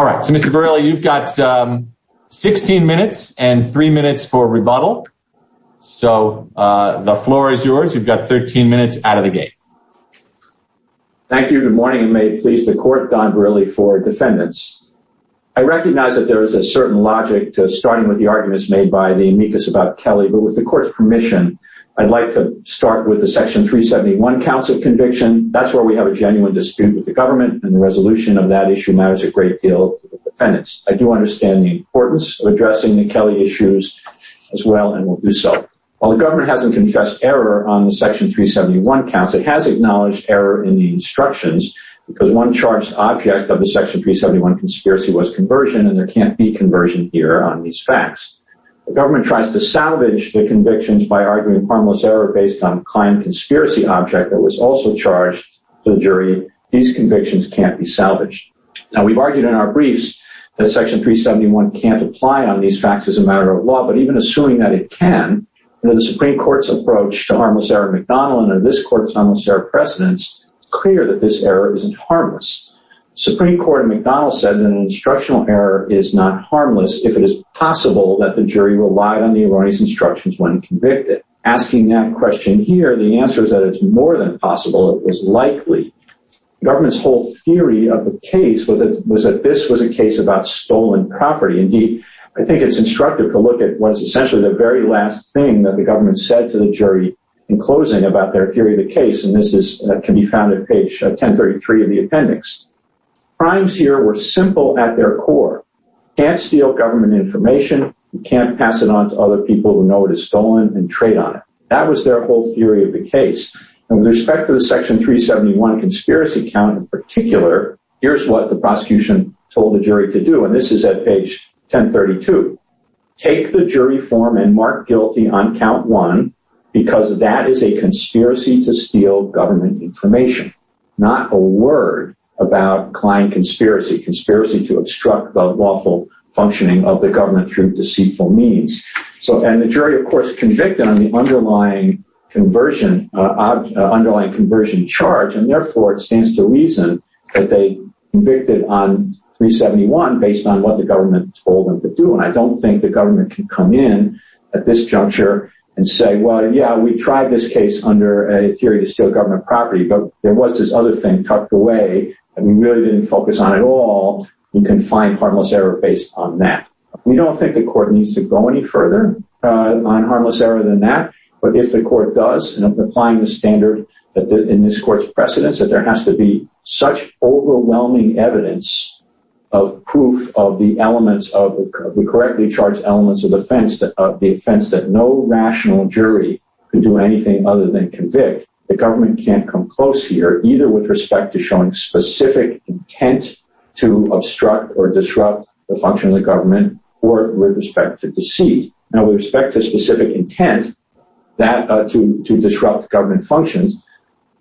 All right, so Mr. Verrilli, you've got 16 minutes and three minutes for rebuttal. So the floor is yours. You've got 13 minutes out of the gate. Thank you, good morning, and may it please the court, Don Verrilli for defendants. I recognize that there is a certain logic to starting with the arguments made by the amicus about Kelly, but with the court's permission, I'd like to start with the Section 371 Council Conviction. That's where we have a genuine dispute with the government and the resolution of that issue matters a great deal to the defendants. I do understand the importance of addressing the Kelly issues as well and will do so. While the government hasn't confessed error on the Section 371 Council, it has acknowledged error in the instructions because one charged object of the Section 371 conspiracy was conversion and there can't be conversion here on these facts. The government tries to salvage the convictions by arguing harmless error based on client conspiracy object that was also charged to the jury. These convictions can't be salvaged. Now we've argued in our briefs that Section 371 can't apply on these facts as a matter of law, but even assuming that it can, and in the Supreme Court's approach to harmless error in McDonald and in this court's harmless error precedence, it's clear that this error isn't harmless. Supreme Court in McDonald said that an instructional error is not harmless if it is possible that the jury relied on the erroneous instructions when convicted. Asking that question here, the answer is that it's more than possible, it was likely. Government's whole theory of the case was that this was a case about stolen property. Indeed, I think it's instructive to look at what's essentially the very last thing that the government said to the jury in closing about their theory of the case, and this can be found at page 1033 of the appendix. Crimes here were simple at their core. Can't steal government information, you can't pass it on to other people who know it is stolen and trade on it. That was their whole theory of the case. And with respect to the section 371 conspiracy count in particular, here's what the prosecution told the jury to do, and this is at page 1032. Take the jury form and mark guilty on count one because that is a conspiracy to steal government information not a word about client conspiracy. Conspiracy to obstruct the lawful functioning of the government through deceitful means. So, and the jury of course convicted on the underlying conversion charge and therefore it stands to reason that they convicted on 371 based on what the government told them to do and I don't think the government can come in at this juncture and say, well, yeah, we tried this case under a theory to steal government property, but there was this other thing tucked away and we really didn't focus on it at all. You can find harmless error based on that. We don't think the court needs to go any further on harmless error than that, but if the court does and applying the standard in this court's precedence that there has to be such overwhelming evidence of proof of the elements of the correctly charged elements of the offense that no rational jury can do anything other than convict. The government can't come close here either with respect to showing specific intent to obstruct or disrupt the function of the government or with respect to deceit. Now with respect to specific intent that to disrupt government functions,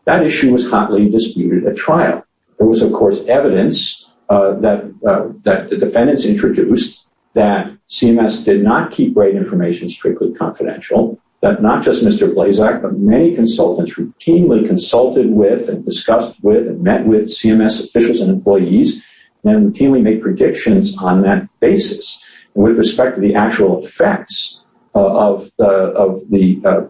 that issue was hotly disputed at trial. There was of course evidence that the defendants introduced that CMS did not keep great information strictly confidential, that not just Mr. Blazak, but many consultants routinely consulted with and discussed with and met with CMS officials and employees and routinely make predictions on that basis. With respect to the actual effects of the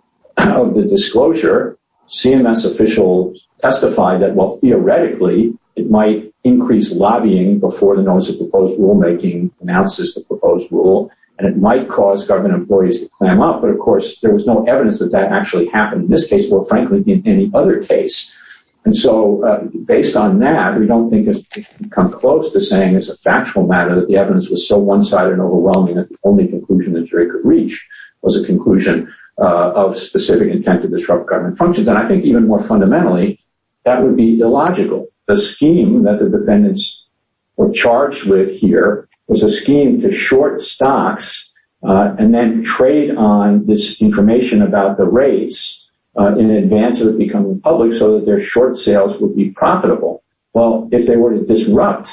disclosure, CMS officials testified that while theoretically it might increase lobbying before the notice of proposed rulemaking announces the proposed rule and it might cause government employees to clam up, but of course there was no evidence that that actually happened in this case, more frankly than any other case. And so based on that, we don't think it's come close to saying as a factual matter that the evidence was so one-sided and overwhelming that the only conclusion that jury could reach was a conclusion of specific intent to disrupt government functions. And I think even more fundamentally, that would be illogical. The scheme that the defendants were charged with here was a scheme to short stocks and then trade on this information about the rates in advance of it becoming public so that their short sales would be profitable. Well, if they were to disrupt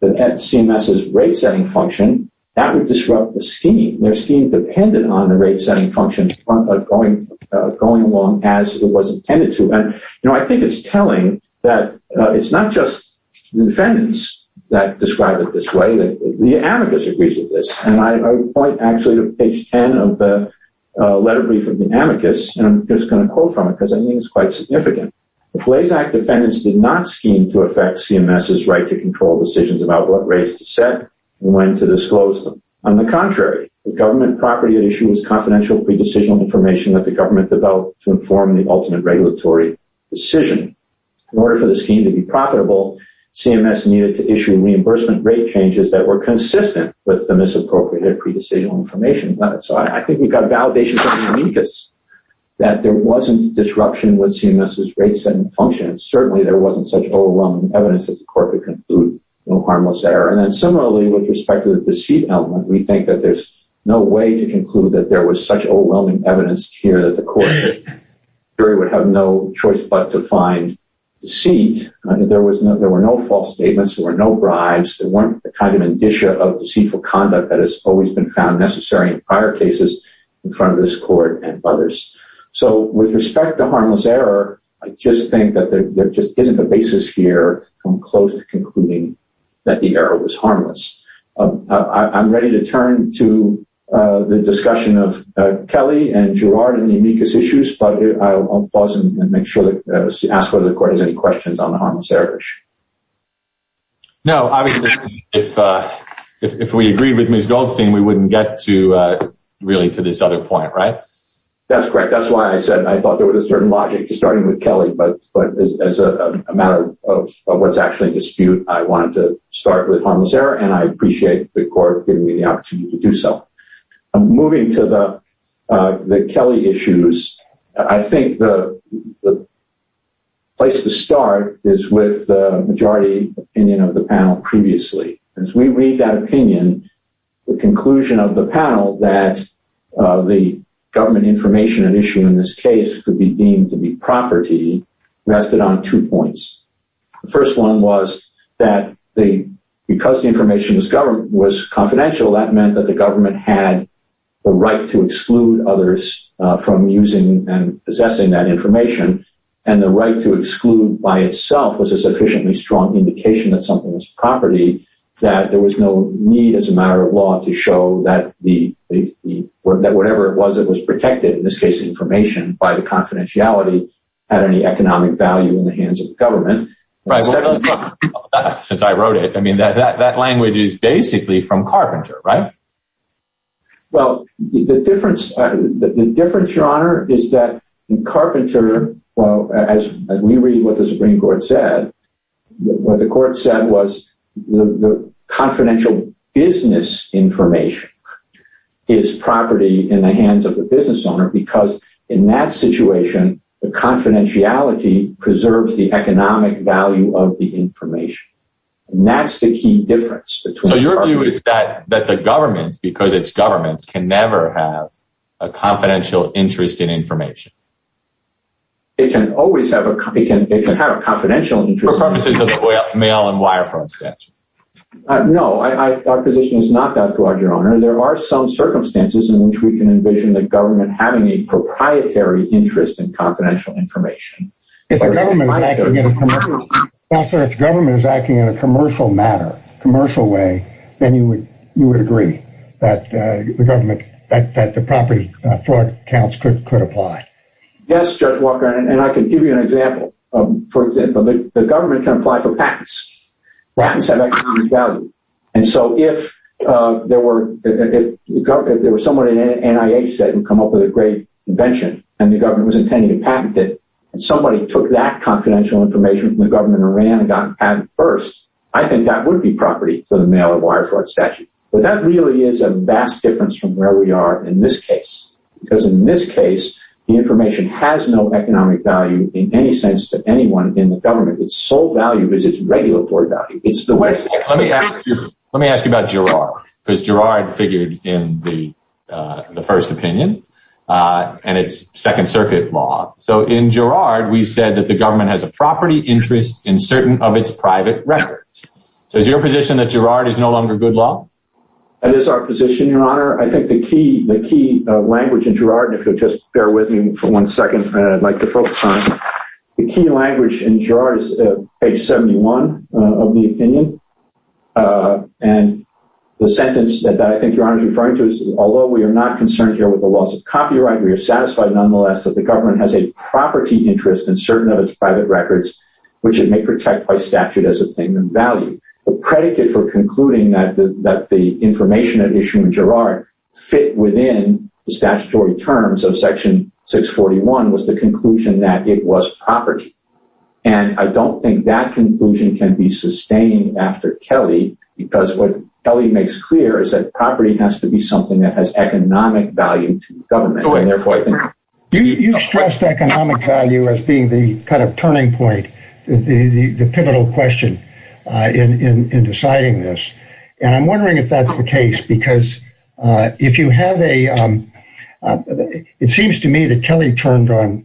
the CMS's rate-setting function, that would disrupt the scheme. Their scheme depended on the rate-setting function going along as it was intended to. And I think it's telling that it's not just the defendants that describe it this way, that the amicus agrees with this. And I point actually to page 10 of the letter brief of the amicus, and I'm just gonna quote from it because I think it's quite significant. The Blazac defendants did not scheme to affect CMS's right to control decisions about what rates to set and when to disclose them. On the contrary, the government property that issues confidential pre-decisional information that the government developed to inform the ultimate regulatory decision. In order for the scheme to be profitable, CMS needed to issue reimbursement rate changes that were consistent with the misappropriated pre-decisional information. So I think we've got a validation from the amicus that there wasn't disruption with CMS's rate-setting function. Certainly there wasn't such overwhelming evidence that the court would conclude no harmless error. And then similarly with respect to the deceit element, we think that there's no way to conclude that there was such overwhelming evidence here that the court would have no choice but to find deceit. There were no false statements, there were no bribes, there weren't the kind of indicia of deceitful conduct that has always been found necessary in prior cases in front of this court and others. So with respect to harmless error, I just think that there just isn't a basis here from close to concluding that the error was harmless. I'm ready to turn to the discussion of Kelly and Gerard and the amicus issues, but I'll pause and make sure that, ask whether the court has any questions on the harmless error. No, obviously if we agreed with Ms. Goldstein, we wouldn't get to really to this other point, right? That's correct. That's why I said I thought there was a certain logic to starting with Kelly, but as a matter of what's actually a dispute, I wanted to start with harmless error and I appreciate the court giving me the opportunity to do so. Moving to the Kelly issues, I think the place to start is with the majority opinion of the panel previously. As we read that opinion, the conclusion of the panel that the government information at issue in this case could be deemed to be property rested on two points. The first one was that because the information was confidential, that meant that the government had the right to exclude others from using and possessing that information and the right to exclude by itself was a sufficiently strong indication that something was property, that there was no need as a matter of law to show that whatever it was that was protected, in this case, information by the confidentiality at any economic value in the hands of the government. Right, since I wrote it, I mean, that language is basically from Carpenter, right? Well, the difference, Your Honor, is that in Carpenter, well, as we read what the Supreme Court said, what the court said was the confidential business information is property in the hands of the business owner because in that situation, the confidentiality preserves the economic value of the information. And that's the key difference between- So your view is that the government, because it's government, can never have a confidential interest in information? It can always have a confidential interest- For purposes of the mail and wire front statute. No, our position is not that, Your Honor, there are some circumstances in which we can envision the government having a proprietary interest in confidential information. If the government is acting in a commercial matter, commercial way, then you would agree that the property fraud counts could apply. Yes, Judge Walker, and I can give you an example. For example, the government can apply for patents. Patents have economic value. And so if there were someone in NIH that would come up with a great invention and the government was intending to patent it, and somebody took that confidential information from the government and ran and got a patent first, I think that would be property for the mail and wire fraud statute. But that really is a vast difference from where we are in this case. Because in this case, the information has no economic value in any sense to anyone in the government. Its sole value is its regulatory value. Let me ask you about Girard, because Girard figured in the first opinion and its Second Circuit law. So in Girard, we said that the government has a property interest in certain of its private records. So is your position that Girard is no longer good law? That is our position, Your Honor. I think the key language in Girard, and if you'll just bear with me for one second, I'd like to focus on, the key language in Girard is page 71 of the opinion. And the sentence that I think Your Honor is referring to is although we are not concerned here with the loss of copyright, we are satisfied nonetheless that the government has a property interest in certain of its private records, which it may protect by statute as a thing of value. The predicate for concluding that the information at issue in Girard fit within the statutory terms of section 641 was the conclusion that it was property. And I don't think that conclusion can be sustained after Kelly, because what Kelly makes clear is that property has to be something that has economic value to the government. And therefore, I think- You stressed economic value as being the kind of turning point, the pivotal question in deciding this. And I'm wondering if that's the case, because if you have a, it seems to me that Kelly turned on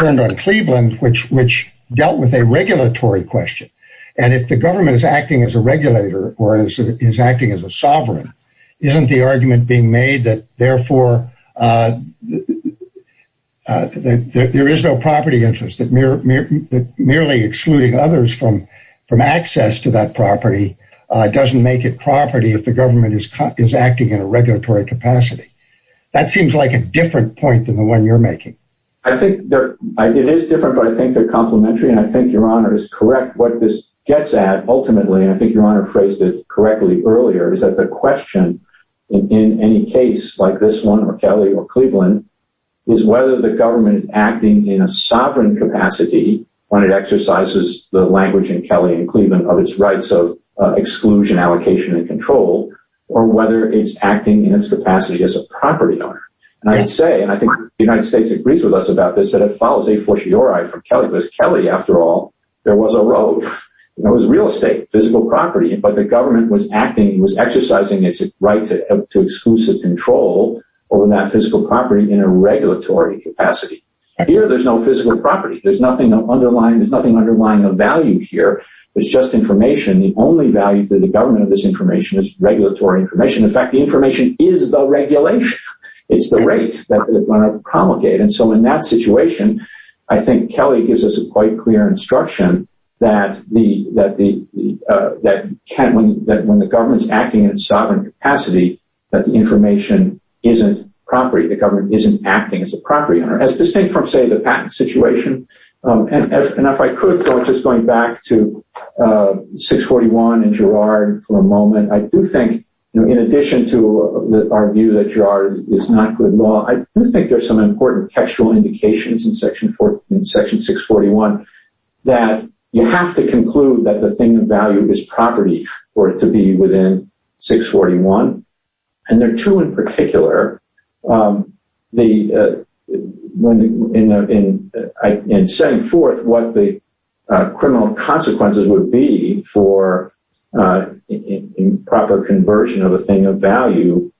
turned on Cleveland, which dealt with a regulatory question. And if the government is acting as a regulator or is acting as a sovereign, isn't the argument being made that therefore there is no property interest, that merely excluding others from access to that property doesn't make it property if the government is acting in a regulatory capacity. That seems like a different point than the one you're making. I think it is different, but I think they're complimentary. And I think Your Honor is correct. What this gets at ultimately, and I think Your Honor phrased it correctly earlier, is that the question in any case like this one or Kelly or Cleveland is whether the government acting in a sovereign capacity when it exercises the language in Kelly and Cleveland of its rights of exclusion, allocation and control, or whether it's acting in its capacity as a property owner. And I'd say, and I think the United States agrees with us about this, that it follows a fortiori from Kelly, because Kelly, after all, there was a road. It was real estate, physical property, but the government was acting, was exercising its right to exclusive control over that physical property in a regulatory capacity. Here, there's no physical property. There's nothing underlying a value here. It's just information. The only value to the government of this information is regulatory information. In fact, the information is the regulation. It's the rate that they're gonna promulgate. And so in that situation, I think Kelly gives us a quite clear instruction that when the government's acting in a sovereign capacity, that the information isn't property, the government isn't acting as a property owner, as distinct from, say, the patent situation. And if I could, just going back to 641 and Girard for a moment, I do think, in addition to our view that Girard is not good law, I do think there's some important textual indications in section 641 that you have to conclude that the thing of value is property for it to be within 641. And there are two in particular. In setting forth what the criminal consequences would be for improper conversion of a thing of value,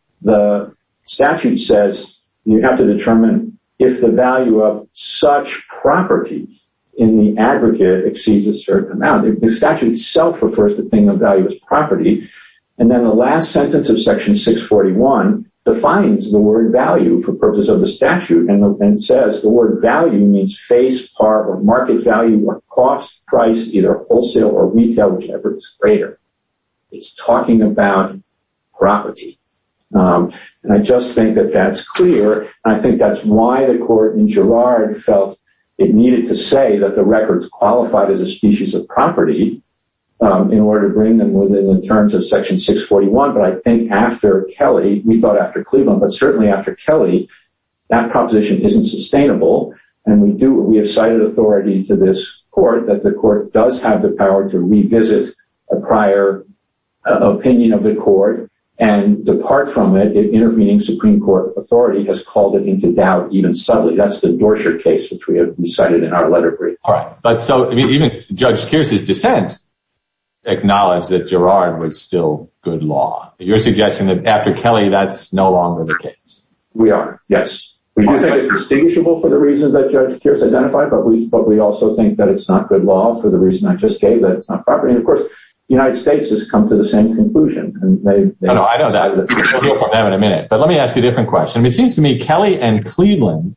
statute says you have to determine if the value of such property in the aggregate exceeds a certain amount. The statute itself refers to the thing of value as property. And then the last sentence of section 641 defines the word value for purpose of the statute and says the word value means face, part, or market value, or cost, price, either wholesale or retail, whichever is greater. It's talking about property. And I just think that that's clear. I think that's why the court in Girard felt it needed to say that the records qualified as a species of property in order to bring them within the terms of section 641. But I think after Kelly, we thought after Cleveland, but certainly after Kelly, that proposition isn't sustainable. And we have cited authority to this court that the court does have the power to revisit a prior opinion of the court and depart from it if intervening Supreme Court authority has called it into doubt even subtly. That's the Dorsher case, which we have recited in our letter brief. All right, but so even Judge Kearse's dissent acknowledged that Girard was still good law. You're suggesting that after Kelly, that's no longer the case. We are, yes. We do think it's distinguishable for the reasons that Judge Kearse identified, but we also think that it's not good law for the reason I just gave, that it's not property. And of course, the United States has come to the same conclusion, and they- No, no, I know that. We'll get to that in a minute. But let me ask you a different question. It seems to me Kelly and Cleveland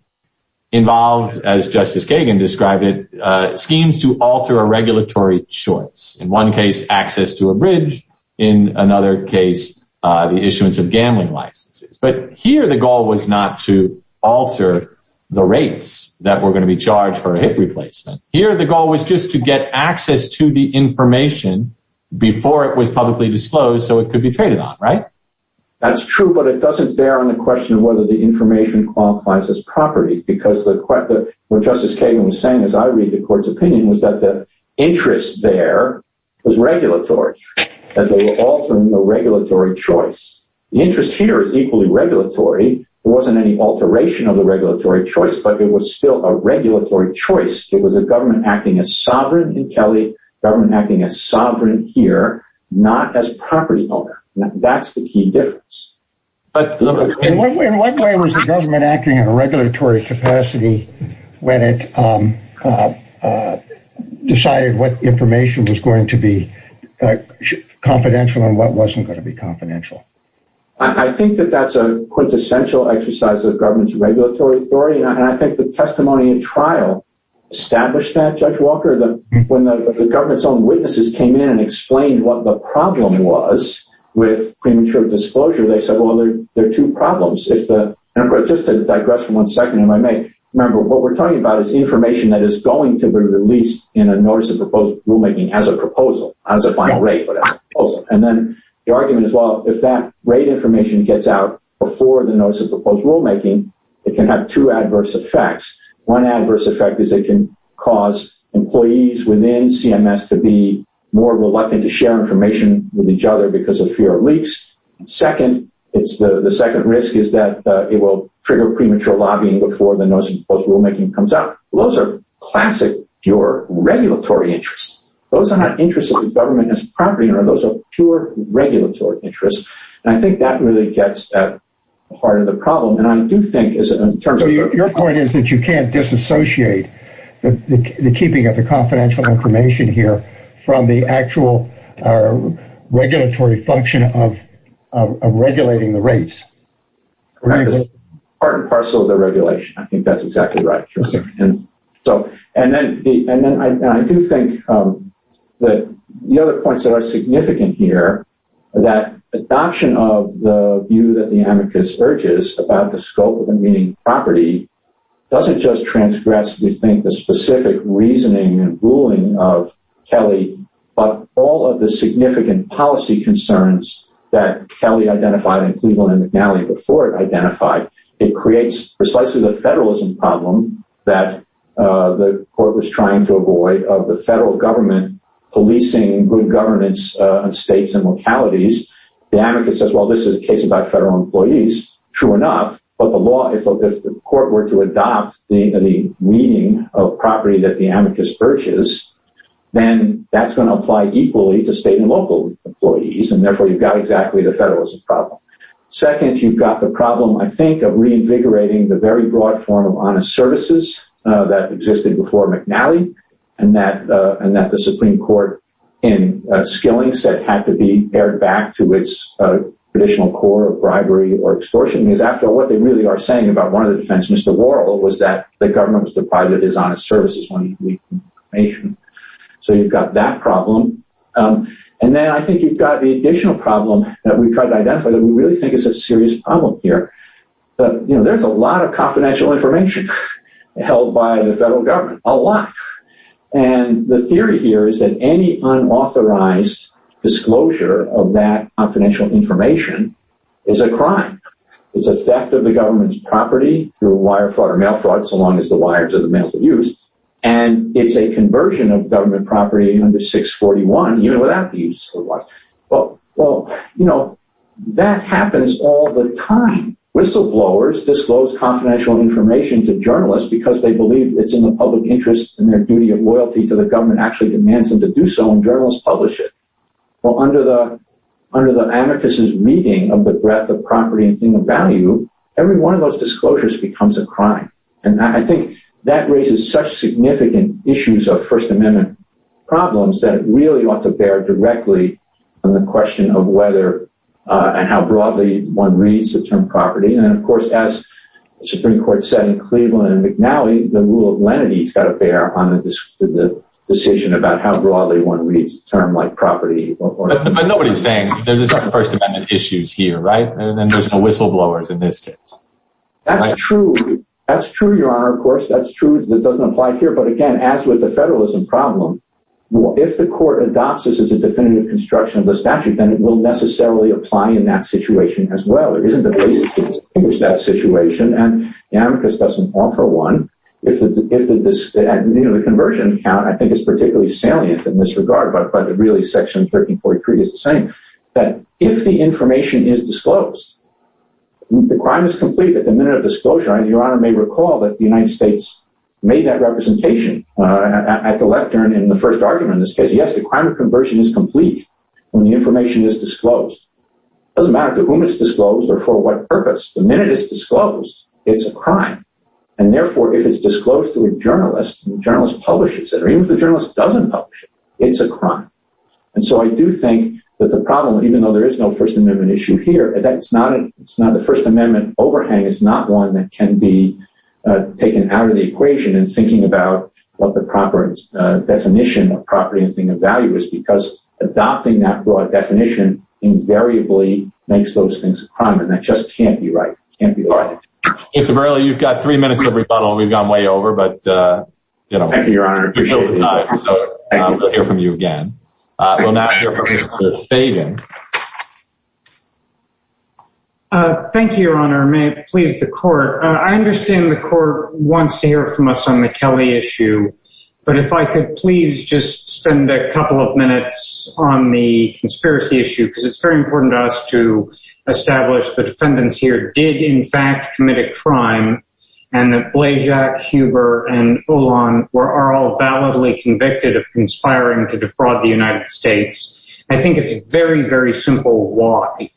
involved, as Justice Kagan described it, schemes to alter a regulatory choice. In one case, access to a bridge. In another case, the issuance of gambling licenses. But here, the goal was not to alter the rates that were gonna be charged for a hit replacement. Here, the goal was just to get access to the information before it was publicly disclosed, so it could be traded on, right? That's true, but it doesn't bear on the question of whether the information qualifies as property, because what Justice Kagan was saying, as I read the court's opinion, was that the interest there was regulatory, that they were altering the regulatory choice. The interest here is equally regulatory. There wasn't any alteration of the regulatory choice, but it was still a regulatory choice. It was a government acting as sovereign in Kelly, government acting as sovereign here, not as property owner. Now, that's the key difference. But- In what way was the government acting in a regulatory capacity when it decided what information was going to be confidential and what wasn't gonna be confidential? I think that that's a quintessential exercise of government's regulatory authority, and I think the testimony in trial established that, Judge Walker, when the government's own witnesses came in and explained what the problem was with premature disclosure, they said, well, there are two problems. If the, and of course, just to digress for one second, if I may, remember, what we're talking about is information that is going to be released in a notice of proposed rulemaking as a proposal, as a final rate proposal. And then the argument is, well, if that rate information gets out before the notice of proposed rulemaking, it can have two adverse effects. One adverse effect is it can cause employees within CMS to be more reluctant to share information with each other because of fear of leaks. And second, it's the second risk is that it will trigger premature lobbying before the notice of proposed rulemaking comes out. Those are classic pure regulatory interests. Those are not interests of the government as property owner. Those are pure regulatory interests. And I think that really gets at the heart of the problem. And I do think, in terms of- Your point is that you can't disassociate the keeping of the confidential information here from the actual regulatory function of regulating the rates. Part and parcel of the regulation. I think that's exactly right. And then I do think that the other points that are significant here, that adoption of the view that the amicus urges about the scope of the meeting property doesn't just transgress, we think, the specific reasoning and ruling of Kelly, but all of the significant policy concerns that Kelly identified in Cleveland and McNally before it identified. It creates precisely the federalism problem that the court was trying to avoid of the federal government policing good governance of states and localities. The amicus says, well, this is a case about federal employees. True enough. But the law, if the court were to adopt the meeting of property that the amicus urges, then that's going to apply equally to state and local employees. And therefore you've got exactly the federalism problem. Second, you've got the problem, I think, of reinvigorating the very broad form of honest services that existed before McNally and that the Supreme Court in skilling said had to be aired back to its traditional core of bribery or extortion. Because after what they really are saying about one of the defense, Mr. Laurel, was that the government was deprived of his honest services when he leaked information. So you've got that problem. And then I think you've got the additional problem that we've tried to identify that we really think is a serious problem here. But there's a lot of confidential information held by the federal government, a lot. And the theory here is that any unauthorized disclosure of that confidential information is a crime. It's a theft of the government's property through a wire fraud or mail fraud, so long as the wires are the mail to use. And it's a conversion of government property under 641, even without the use of the wire. Well, you know, that happens all the time. Whistleblowers disclose confidential information to journalists because they believe it's in the public interest and their duty of loyalty to the government actually demands them to do so and journalists publish it. Well, under the anarchist's reading of the breadth of property and thing of value, every one of those disclosures becomes a crime. And I think that raises such significant issues of First Amendment problems that it really ought to bear directly on the question of whether and how broadly one reads the term property. And of course, as the Supreme Court said in Cleveland and McNally, the rule of lenity has got to bear on the decision about how broadly one reads term like property. But nobody's saying there's no First Amendment issues here, right? And then there's no whistleblowers in this case. That's true. That's true, Your Honor, of course. That's true. That doesn't apply here. But again, as with the federalism problem, if the court adopts this as a definitive construction of the statute, then it will necessarily apply in that situation as well. There isn't a place to distinguish that situation. And the anarchist doesn't offer one. If the conversion count, I think it's particularly salient in this regard, but really Section 1343 is the same, that if the information is disclosed, the crime is complete at the minute of disclosure. And Your Honor may recall that the United States made that representation at the lectern in the first argument in this case. Yes, the crime of conversion is complete when the information is disclosed. It doesn't matter to whom it's disclosed or for what purpose. And therefore, if it's disclosed to a journalist, the journalist publishes it. Or even if the journalist doesn't publish it, it's a crime. And so I do think that the problem, even though there is no First Amendment issue here, it's not the First Amendment overhang. It's not one that can be taken out of the equation in thinking about what the proper definition of property and thing of value is because adopting that broad definition invariably makes those things a crime. And that just can't be right. Can't be right. Yes, Averill, you've got three minutes of rebuttal. We've gone way over, but, you know. Thank you, Your Honor. I appreciate it. We'll hear from you again. We'll now hear from Mr. Fagan. Thank you, Your Honor. May it please the court. I understand the court wants to hear from us on the Kelly issue, but if I could please just spend a couple of minutes on the conspiracy issue, because it's very important to us to establish the defendants here did in fact commit a crime and that Blazak, Huber, and Ulan were all validly convicted of conspiring to defraud the United States. I think it's a very, very simple why.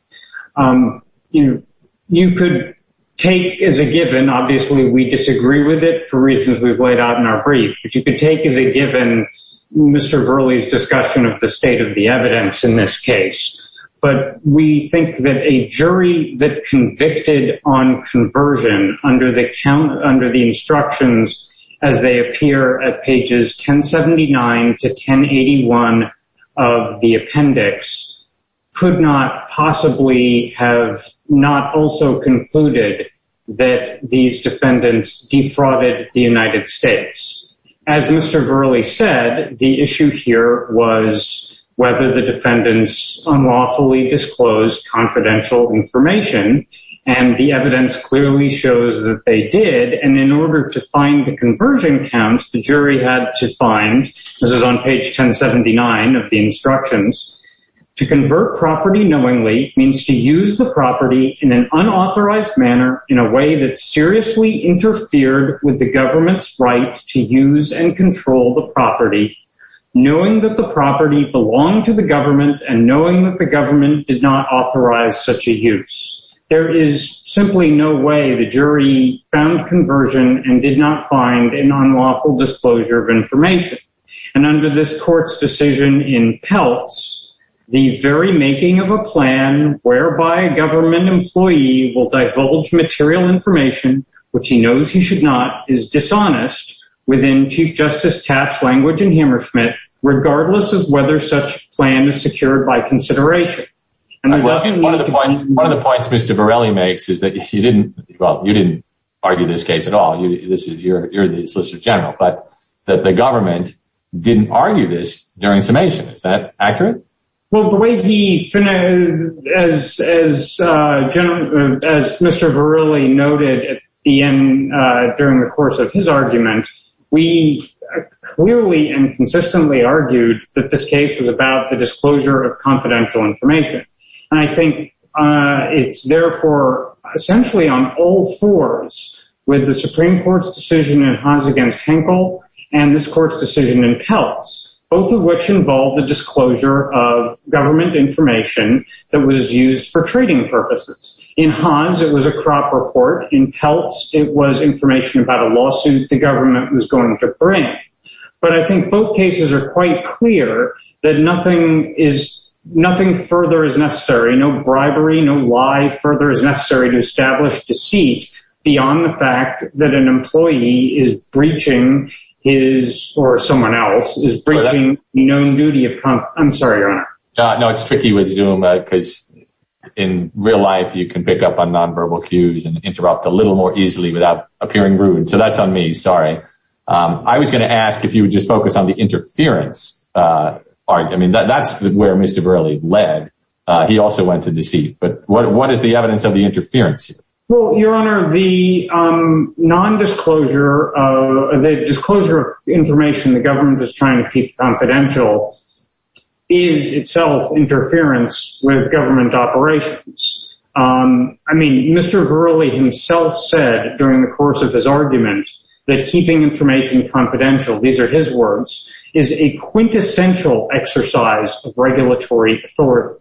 You could take as a given, obviously we disagree with it for reasons we've laid out in our brief, but you could take as a given Mr. Verley's discussion of the state of the evidence in this case. But we think that a jury that convicted on conversion under the instructions, as they appear at pages 1079 to 1081 of the appendix, could not possibly have not also concluded that these defendants defrauded the United States. As Mr. Verley said, the issue here was whether the defendants unlawfully disclosed confidential information and the evidence clearly shows that they did. And in order to find the conversion counts, the jury had to find, this is on page 1079 of the instructions, to convert property knowingly means to use the property in an unauthorized manner in a way that seriously interfered with the government's right to use and control the property, knowing that the property belonged to the government and knowing that the government did not authorize such a use. There is simply no way the jury found conversion and did not find an unlawful disclosure of information. And under this court's decision in Peltz, the very making of a plan whereby a government employee will divulge material information, which he knows he should not, is dishonest within Chief Justice Tapp's language in Hammerschmidt, regardless of whether such plan is secured by consideration. One of the points Mr. Varelli makes is that if you didn't, well, you didn't argue this case at all, this is your, you're the Solicitor General, but that the government didn't argue this during summation. Is that accurate? Well, the way the, as Mr. Varelli noted at the end during the course of his argument, we clearly and consistently argued that this case was about the disclosure of confidential information. And I think it's therefore essentially on all fours with the Supreme Court's decision in Haas against Henkel and this court's decision in Peltz, both of which involved the disclosure of government information that was used for trading purposes. In Haas, it was a crop report. In Peltz, it was information about a lawsuit the government was going to bring. But I think both cases are quite clear that nothing further is necessary, no bribery, no lie further is necessary to establish deceit beyond the fact that an employee is breaching his, or someone else is breaching known duty of, I'm sorry, Your Honor. No, it's tricky with Zoom because in real life you can pick up on nonverbal cues and interrupt a little more easily without appearing rude. So that's on me, sorry. I was going to ask if you would just focus on the interference part. I mean, that's where Mr. Verrilli led. He also went to deceit, but what is the evidence of the interference here? Well, Your Honor, the non-disclosure, the disclosure of information the government is trying to keep confidential is itself interference with government operations. I mean, Mr. Verrilli himself said during the course of his argument that keeping information confidential, these are his words, is a quintessential exercise of regulatory authority.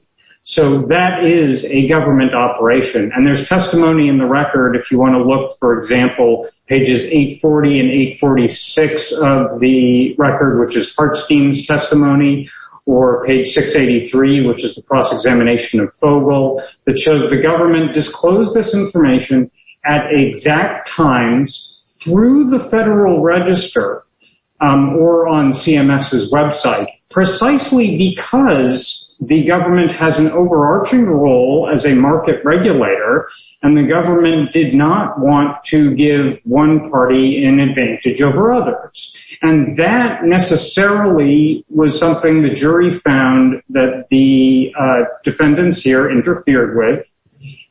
So that is a government operation. And there's testimony in the record if you want to look, for example, pages 840 and 846 of the record, which is Hart Scheme's testimony, or page 683, which is the cross-examination of Fogel that shows the government disclosed this information at exact times through the federal register or on CMS's website, precisely because the government has an overarching role as a market regulator, and the government did not want to give one party an advantage over others. And that necessarily was something the jury found that the defendants here interfered with,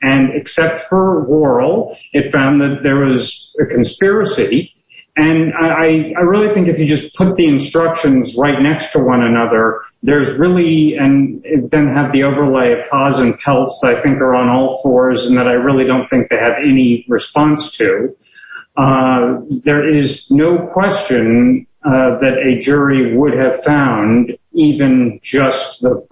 and except for Worrell, it found that there was a conspiracy. And I really think if you just put the instructions right next to one another, there's really, and then have the overlay of paws and pelts that I think are on all fours, and that I really don't think they have any response to, there is no question that a jury would have found even just the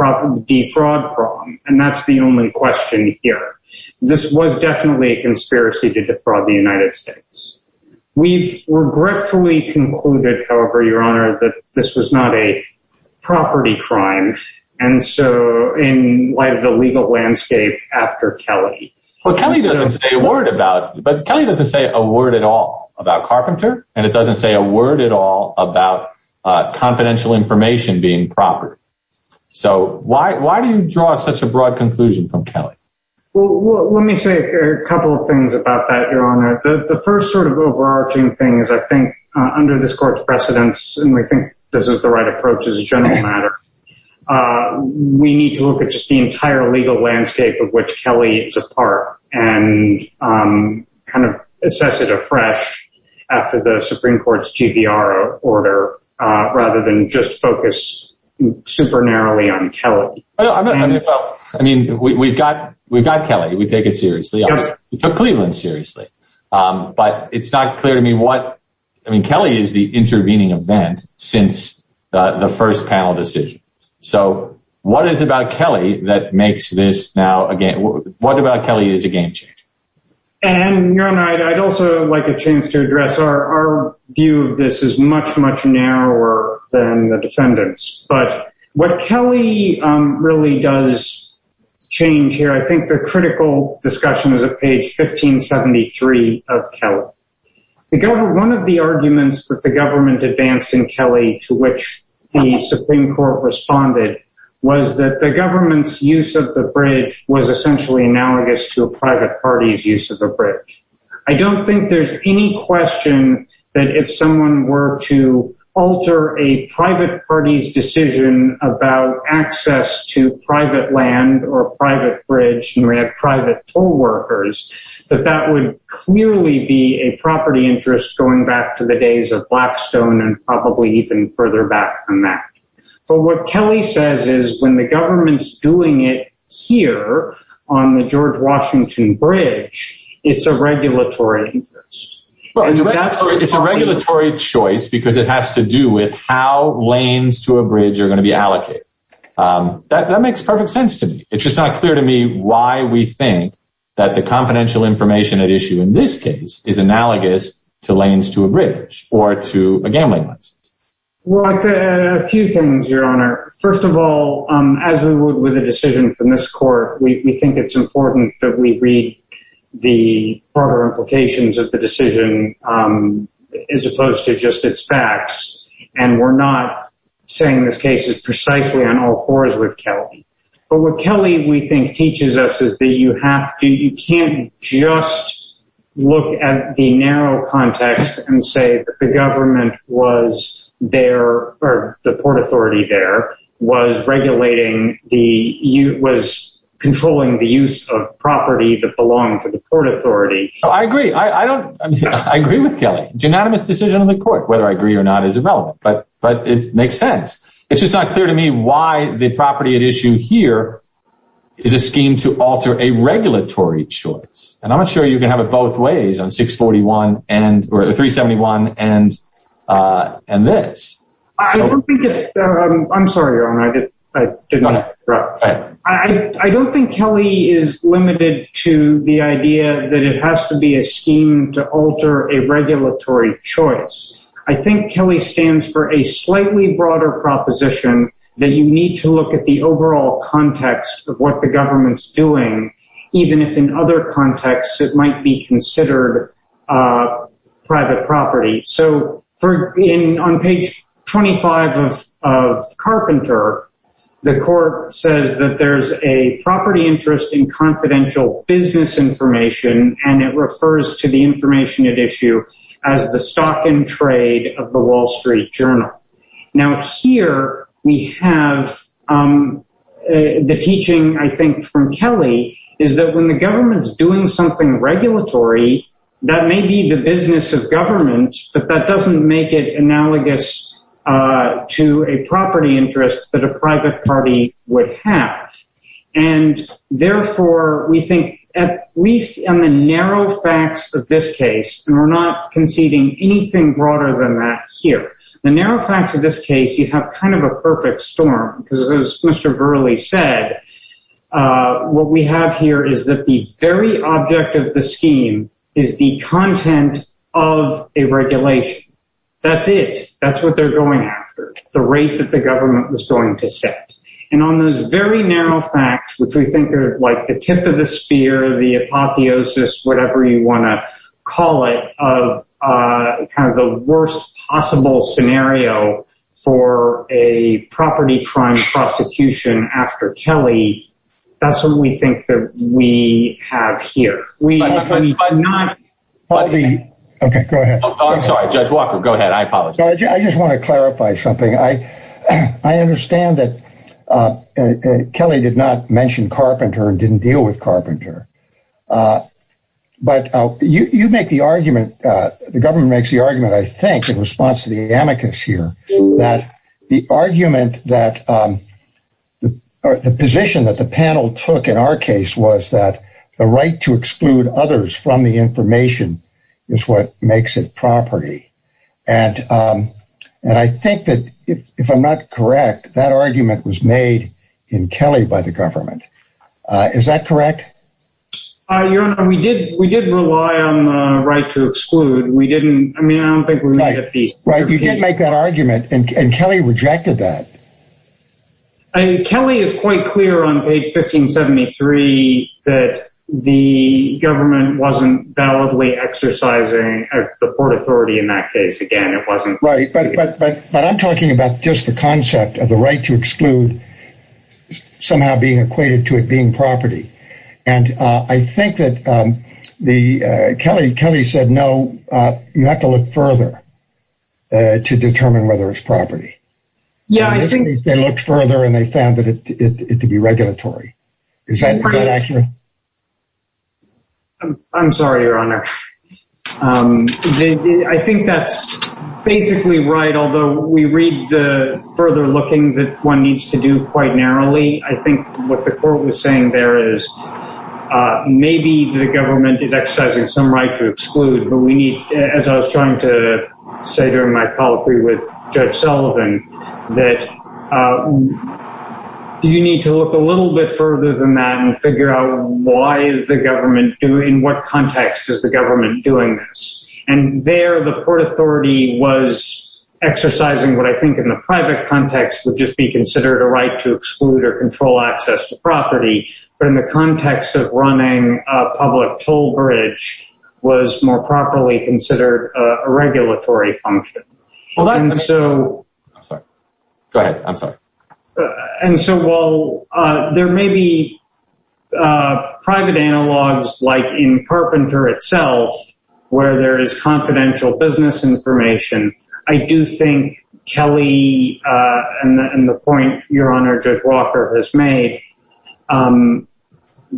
defraud problem. And that's the only question here. This was definitely a conspiracy to defraud the United States. We've regretfully concluded, however, Your Honor, that this was not a property crime, and so in light of the legal landscape after Kelly. Well, Kelly doesn't say a word about, but Kelly doesn't say a word at all about Carpenter, and it doesn't say a word at all about confidential information being property. So why do you draw such a broad conclusion from Kelly? Well, let me say a couple of things about that, Your Honor. The first sort of overarching thing is, I think under this court's precedence, and we think this is the right approach as a general matter, we need to look at just the entire legal landscape of which Kelly is a part, and kind of assess it afresh after the Supreme Court's GVR order, rather than just focus super narrowly on Kelly. No, I mean, we've got Kelly. We take it seriously. We took Cleveland seriously, but it's not clear to me what, I mean, Kelly is the intervening event since the first panel decision. So what is it about Kelly that makes this now, what about Kelly is a game changer? And Your Honor, I'd also like a chance to address our view of this is much, much narrower than the defendants, but what Kelly really does change here, I think the critical discussion is at page 1573 of Kelly. The government, one of the arguments that the government advanced in Kelly to which the Supreme Court responded was that the government's use of the bridge was essentially analogous to a private party's use of the bridge. I don't think there's any question that if someone were to alter a private party's decision about access to private land or private bridge and we have private toll workers, that that would clearly be a property interest going back to the days of Blackstone and probably even further back from that. But what Kelly says is when the government's doing it here on the George Washington Bridge, it's a regulatory interest. Well, it's a regulatory choice because it has to do with how lanes to a bridge are gonna be allocated. That makes perfect sense to me. It's just not clear to me why we think that the confidential information at issue in this case is analogous to lanes to a bridge or to a gambling license. Well, a few things, Your Honor. First of all, as we would with a decision from this court, we think it's important that we read the proper implications of the decision as opposed to just its facts. And we're not saying this case is precisely on all fours with Kelly. But what Kelly, we think, teaches us is that you can't just look at the narrow context and say that the government was there or the port authority there was regulating, was controlling the use of property that belonged to the port authority. I agree. I agree with Kelly. The unanimous decision of the court, whether I agree or not, is irrelevant, but it makes sense. It's just not clear to me why the property at issue here is a scheme to alter a regulatory choice. And I'm not sure you can have it both ways on 641 and or 371 and this. I don't think it's, I'm sorry, Your Honor, I did not interrupt. I don't think Kelly is limited to the idea that it has to be a scheme to alter a regulatory choice. I think Kelly stands for a slightly broader proposition that you need to look at the overall context of what the government's doing, even if in other contexts, it might be considered private property. So on page 25 of Carpenter, the court says that there's a property interest in confidential business information, and it refers to the information at issue as the stock and trade of the Wall Street Journal. Now, here we have the teaching, I think, from Kelly is that when the government's doing something regulatory, that may be the business of government, but that doesn't make it analogous to a property interest that a private party would have. And therefore, we think at least on the narrow facts of this case, and we're not conceding anything broader than that here, the narrow facts of this case, you have kind of a perfect storm because as Mr. Verley said, what we have here is that the very object of the scheme is the content of a regulation. That's it, that's what they're going after, the rate that the government was going to set. And on those very narrow facts, which we think are like the tip of the spear, the apotheosis, whatever you wanna call it, of kind of the worst possible scenario for a property crime prosecution after Kelly, that's what we think that we have here. Okay, go ahead. Oh, I'm sorry, Judge Walker, go ahead. I apologize. I just wanna clarify something. I understand that Kelly did not mention Carpenter and didn't deal with Carpenter, but you make the argument, the government makes the argument, I think, in response to the amicus here, that the argument that, the position that the panel took in our case was that the right to exclude others from the information is what makes it property. And I think that if I'm not correct, that argument was made in Kelly by the government. Is that correct? We did rely on the right to exclude. We didn't, I mean, I don't think we made a piece. Right, you didn't make that argument and Kelly rejected that. And Kelly is quite clear on page 1573 that the government wasn't validly exercising the port authority in that case. Again, it wasn't. Right, but I'm talking about just the concept of the right to exclude somehow being equated to it being property. And I think that Kelly said, no, you have to look further. To determine whether it's property. Yeah, I think- They looked further and they found it to be regulatory. Is that accurate? I'm sorry, your honor. I think that's basically right. Although we read the further looking that one needs to do quite narrowly. I think what the court was saying there is, maybe the government is exercising some right to exclude, but we need, as I was trying to say during my colloquy with Judge Sullivan, that you need to look a little bit further than that and figure out why the government do, in what context is the government doing this? And there the port authority was exercising what I think in the private context would just be considered a right to exclude or control access to property. But in the context of running a public toll bridge was more properly considered a regulatory function. Well that- And so- I'm sorry. Go ahead, I'm sorry. And so while there may be private analogs like in Carpenter itself, where there is confidential business information, I do think Kelly and the point your honor, Judge Walker has made,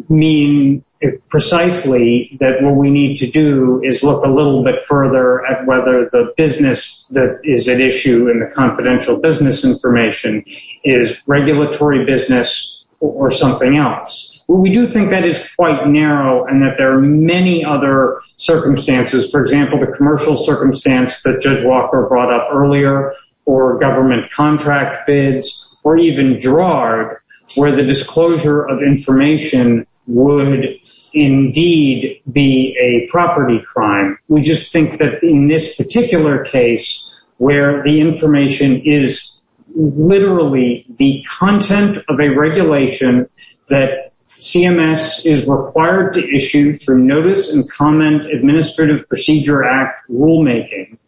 mean precisely that what we need to do is look a little bit further at whether the business that is at issue in the confidential business information is regulatory business or something else. Well, we do think that is quite narrow and that there are many other circumstances. For example, the commercial circumstance that Judge Walker brought up earlier or government contract bids, or even Gerard, where the disclosure of information would indeed be a property crime. We just think that in this particular case where the information is literally the content of a regulation that CMS is required to issue through Notice and Comment Administrative Procedure Act rulemaking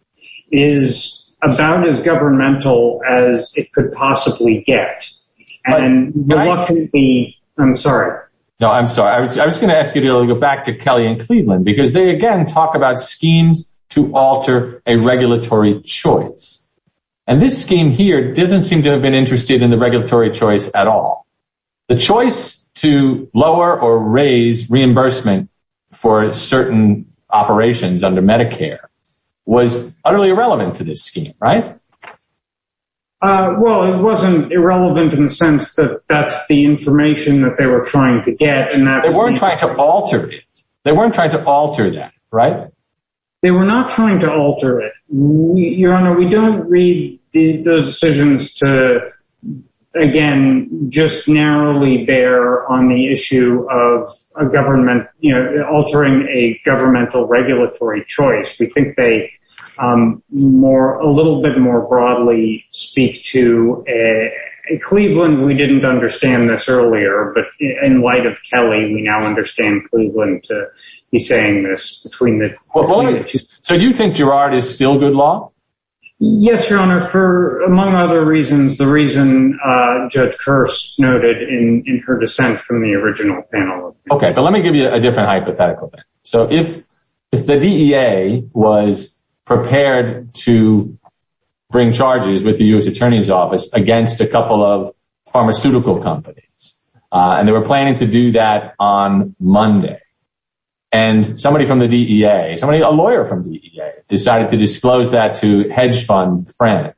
is about as governmental as it could possibly get. And what could be, I'm sorry. No, I'm sorry. I was gonna ask you to go back to Kelly and Cleveland because they again talk about schemes to alter a regulatory choice. And this scheme here doesn't seem to have been interested in the regulatory choice at all. The choice to lower or raise reimbursement for certain operations under Medicare was utterly irrelevant to this scheme, right? Well, it wasn't irrelevant in the sense that that's the information that they were trying to get. They weren't trying to alter it. They weren't trying to alter that, right? They were not trying to alter it. Your Honor, we don't read the decisions to, again, just narrowly bear on the issue of a government, altering a governmental regulatory choice. We think they more, a little bit more broadly speak to, in Cleveland, we didn't understand this earlier, but in light of Kelly, we now understand Cleveland to be saying this between the two. So you think Girard is still good law? Yes, Your Honor, for among other reasons, the reason Judge Kirst noted in her dissent from the original panel. Okay, but let me give you a different hypothetical. So if the DEA was prepared to bring charges with the U.S. Attorney's Office against a couple of pharmaceutical companies, and they were planning to do that on Monday, and somebody from the DEA, a lawyer from the DEA decided to disclose that to hedge fund friends,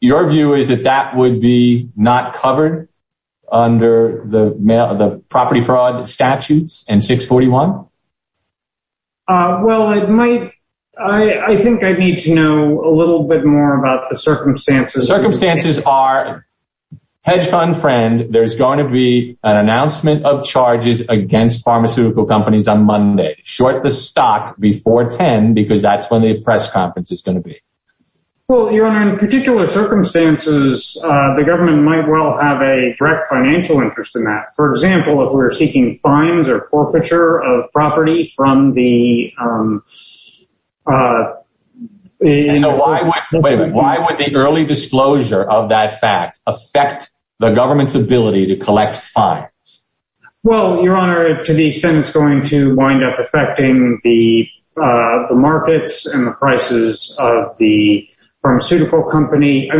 your view is that that would be not covered under the property fraud statutes and 641? Well, I think I need to know a little bit more about the circumstances. Circumstances are, hedge fund friend, there's gonna be an announcement of charges against pharmaceutical companies on Monday, short the stock before 10, because that's when the press conference is gonna be. Well, Your Honor, in particular circumstances, the government might well have a direct financial interest in that. For example, if we're seeking fines or forfeiture of property from the- So why would the early disclosure of that fact affect the government's ability to collect fines? Well, Your Honor, to the extent it's going to wind up affecting the markets and the prices of the pharmaceutical company.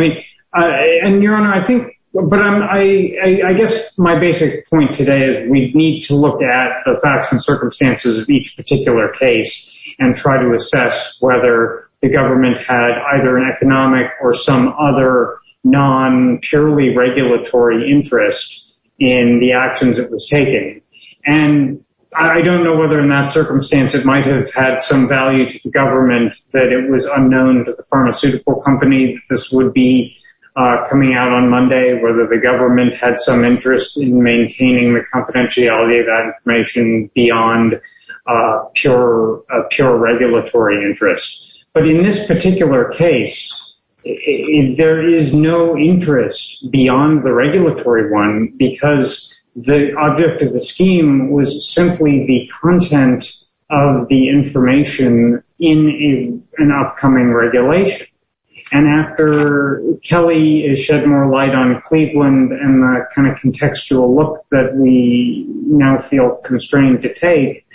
And Your Honor, I think, but I guess my basic point today is we need to look at the facts and circumstances of each particular case and try to assess whether the government had either an economic or some other non purely regulatory interest in the actions it was taking. And I don't know whether in that circumstance it might have had some value to the government that it was unknown to the pharmaceutical company this would be coming out on Monday, whether the government had some interest in maintaining the confidentiality of that information beyond a pure regulatory interest. But in this particular case, there is no interest beyond the regulatory one because the object of the scheme was simply the content of the information in an upcoming regulation. And after Kelly is shed more light on Cleveland and the kind of contextual look that we now feel constrained to take,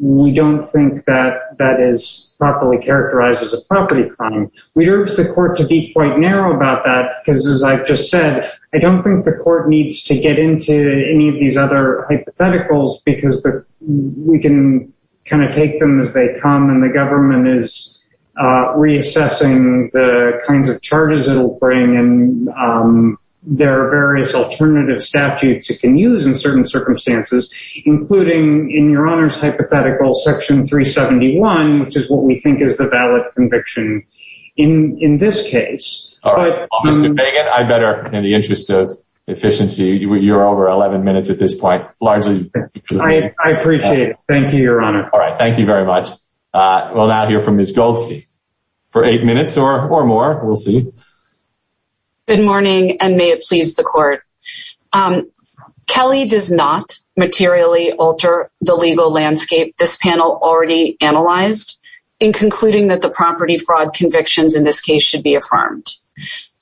we don't think that that is properly characterized as a property crime. We urge the court to be quite narrow about that because as I've just said, I don't think the court needs to get into any of these other hypotheticals because we can kind of take them as they come and the government is reassessing the kinds of charges it'll bring and there are various alternative statutes it can use in certain circumstances, including in your honor's hypothetical section 371, which is what we think is the valid conviction in this case. All right, I better in the interest of efficiency, you're over 11 minutes at this point largely. I appreciate it. Thank you, your honor. All right, thank you very much. We'll now hear from Ms. Goldstein for eight minutes or more, we'll see. Good morning and may it please the court. Kelly does not materially alter the legal landscape this panel already analyzed in concluding that the property fraud convictions in this case should be affirmed.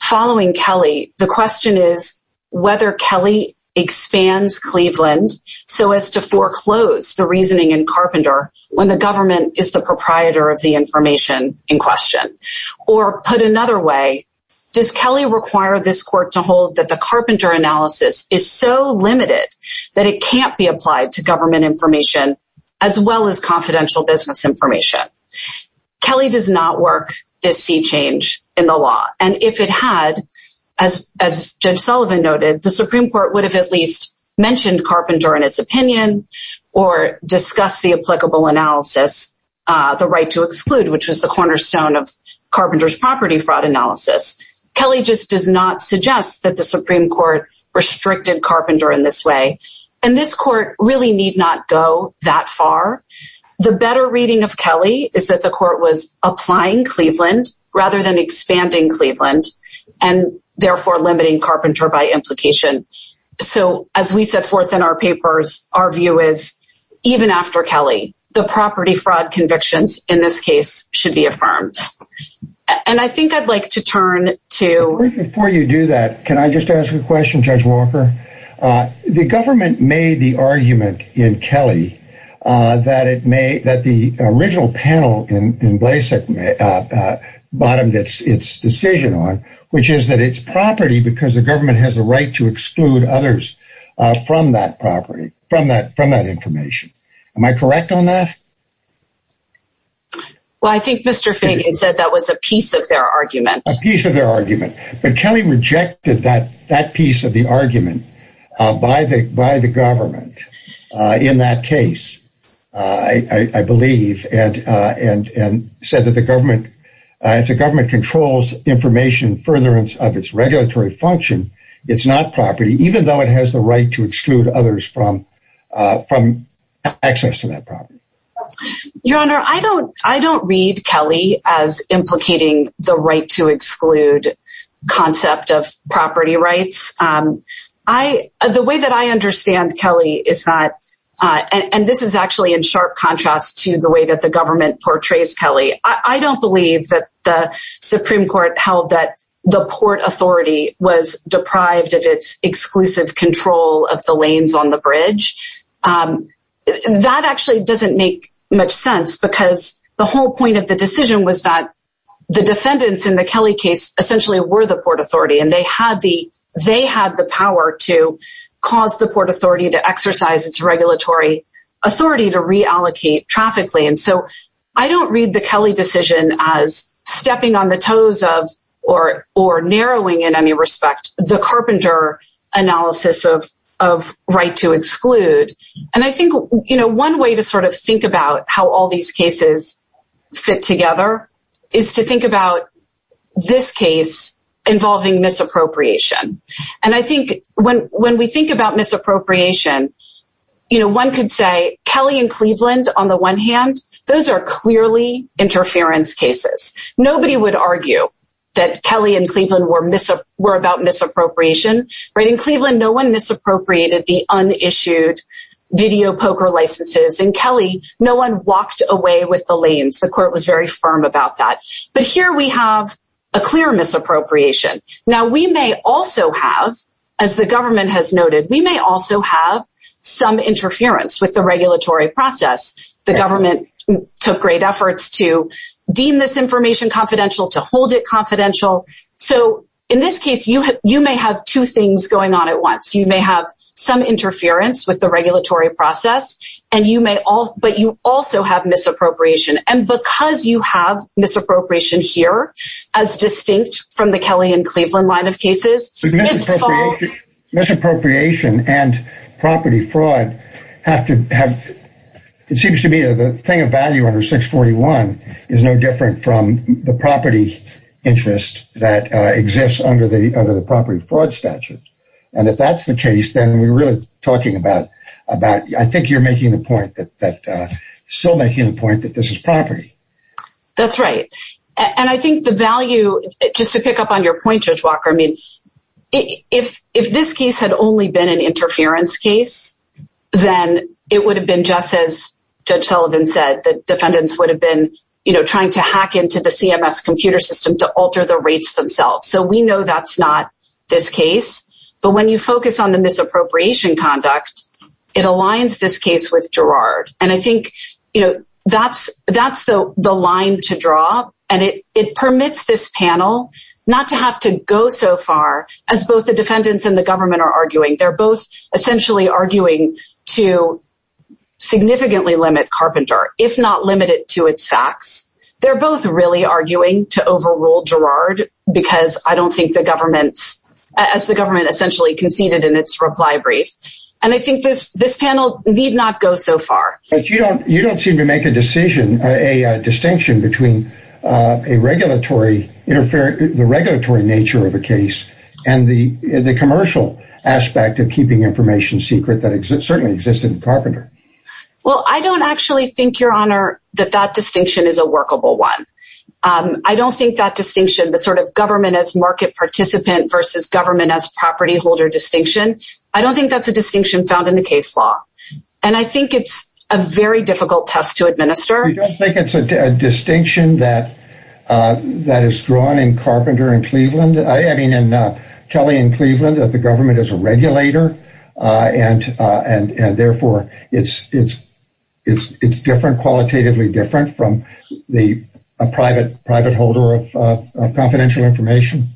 Following Kelly, the question is whether Kelly expands Cleveland so as to foreclose the reasoning in Carpenter when the government is the proprietor of the information in question. Or put another way, does Kelly require this court to hold that the Carpenter analysis is so limited that it can't be applied to government information as well as confidential business information? Kelly does not work this sea change in the law. the Supreme Court would have at least mentioned Carpenter in its opinion or discuss the applicable analysis, the right to exclude, which was the cornerstone of Carpenter's property fraud analysis. Kelly just does not suggest that the Supreme Court restricted Carpenter in this way. And this court really need not go that far. The better reading of Kelly is that the court was applying Cleveland rather than expanding Cleveland and therefore limiting Carpenter by implication. So as we set forth in our papers, our view is even after Kelly, the property fraud convictions in this case should be affirmed. And I think I'd like to turn to- Before you do that, can I just ask a question, Judge Walker? The government made the argument in Kelly that the original panel in Blasek bottomed its decision on, which is that it's property because the government has a right to exclude others from that property, from that information. Am I correct on that? Well, I think Mr. Finnegan said that was a piece of their argument. A piece of their argument. But Kelly rejected that piece of the argument by the government in that case, I believe, and said that the government, if the government controls information furtherance of its regulatory function, it's not property even though it has the right to exclude others from access to that property. Your Honor, I don't read Kelly as implicating the right to exclude concept of property rights. The way that I understand Kelly is not, and this is actually in sharp contrast to the way that the government portrays Kelly. I don't believe that the Supreme Court held that the Port Authority was deprived of its exclusive control of the lanes on the bridge. That actually doesn't make much sense because the whole point of the decision was that the defendants in the Kelly case essentially were the Port Authority and they had the power to cause the Port Authority to exercise its regulatory authority to reallocate traffic lane. So I don't read the Kelly decision as stepping on the toes of, or narrowing in any respect, the carpenter analysis of right to exclude. And I think one way to sort of think about how all these cases fit together is to think about this case involving misappropriation. And I think when we think about misappropriation, one could say Kelly and Cleveland on the one hand, those are clearly interference cases. Nobody would argue that Kelly and Cleveland were about misappropriation, right? In Cleveland, no one misappropriated the unissued video poker licenses. In Kelly, no one walked away with the lanes. The court was very firm about that. But here we have a clear misappropriation. Now we may also have, as the government has noted, we may also have some interference with the regulatory process. The government took great efforts to deem this information confidential, to hold it confidential. So in this case, you may have two things going on at once. You may have some interference with the regulatory process, and you may, but you also have misappropriation. And because you have misappropriation here as distinct from the Kelly and Cleveland line of cases, this falls- Misappropriation and property fraud have to have, it seems to me, the thing of value under 641 is no different from the property interest that exists under the property fraud statute. And if that's the case, then we're really talking about, I think you're making the point that, still making the point that this is property. That's right. And I think the value, just to pick up on your point, Judge Walker, I mean, if this case had only been an interference case, then it would have been just as Judge Sullivan said, that defendants would have been trying to hack into the CMS computer system to alter the rates themselves. So we know that's not this case, but when you focus on the misappropriation conduct, it aligns this case with Gerard. And I think that's the line to draw, and it permits this panel not to have to go so far as both the defendants and the government are arguing. They're both essentially arguing to significantly limit Carpenter, if not limit it to its facts. They're both really arguing to overrule Gerard because I don't think the government, as the government essentially conceded in its reply brief. And I think this panel need not go so far. But you don't seem to make a decision, a distinction between a regulatory nature of a case and the commercial aspect of keeping information secret that certainly existed in Carpenter. Well, I don't actually think, Your Honor, that that distinction is a workable one. I don't think that distinction, the sort of government as market participant versus government as property holder distinction, I don't think that's a distinction found in the case law. And I think it's a very difficult test to administer. You don't think it's a distinction that is drawn in Carpenter and Cleveland? I mean, in Kelly and Cleveland, that the government is a regulator and therefore it's different, qualitatively different from a private holder of confidential information?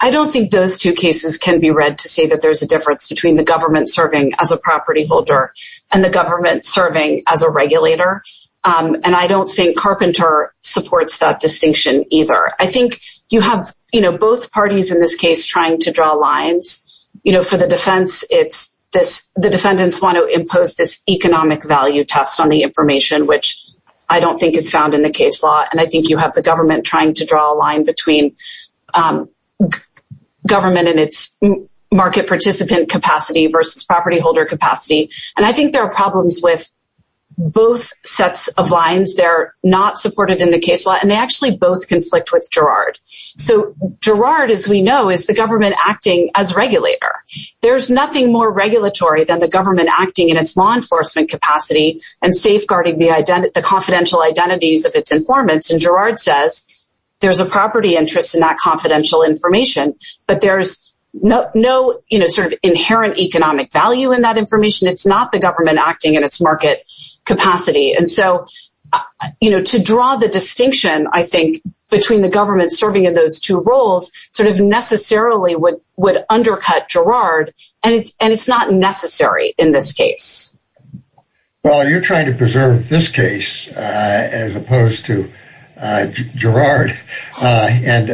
I don't think those two cases can be read to say that there's a difference between the government serving as a property holder and the government serving as a regulator. And I don't think Carpenter supports that distinction either. I think you have both parties in this case trying to draw lines. For the defense, the defendants want to impose this economic value test on the information, which I don't think is found in the case law. And I think you have the government trying to draw a line between government and its market participant capacity versus property holder capacity. And I think there are problems with both sets of lines. They're not supported in the case law and they actually both conflict with Girard. So Girard, as we know, is the government acting as regulator. There's nothing more regulatory than the government acting in its law enforcement capacity and safeguarding the confidential identities of its informants. And Girard says there's a property interest in that confidential information, but there's no sort of inherent economic value in that information. It's not the government acting in its market capacity. And so, to draw the distinction, I think, between the government serving in those two roles sort of necessarily would undercut Girard and it's not necessary in this case. Well, you're trying to preserve this case as opposed to Girard. And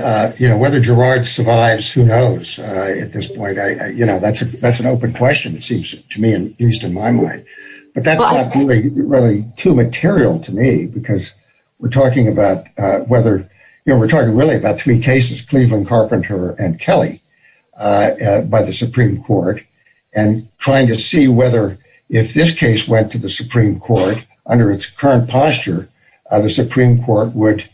whether Girard survives, who knows at this point. That's an open question, it seems to me, at least in my mind. But that's not really too material to me because we're talking about whether, you know, we're talking really about three cases, Cleveland, Carpenter, and Kelly by the Supreme Court and trying to see whether if this case went to the Supreme Court under its current posture, the Supreme Court would,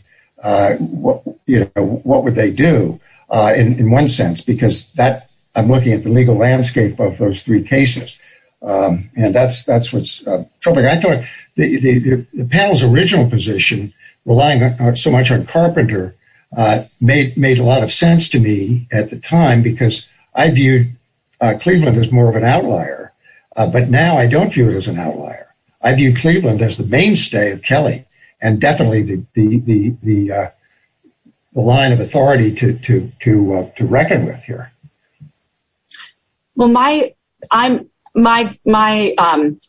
you know, what would they do in one sense? Because that, I'm looking at the legal landscape of those three cases. And that's what's troubling. I thought the panel's original position, relying so much on Carpenter, made a lot of sense to me at the time because I viewed Cleveland as more of an outlier, but now I don't view it as an outlier. I view Cleveland as the mainstay of Kelly and definitely the line of authority to reckon with here. Well, my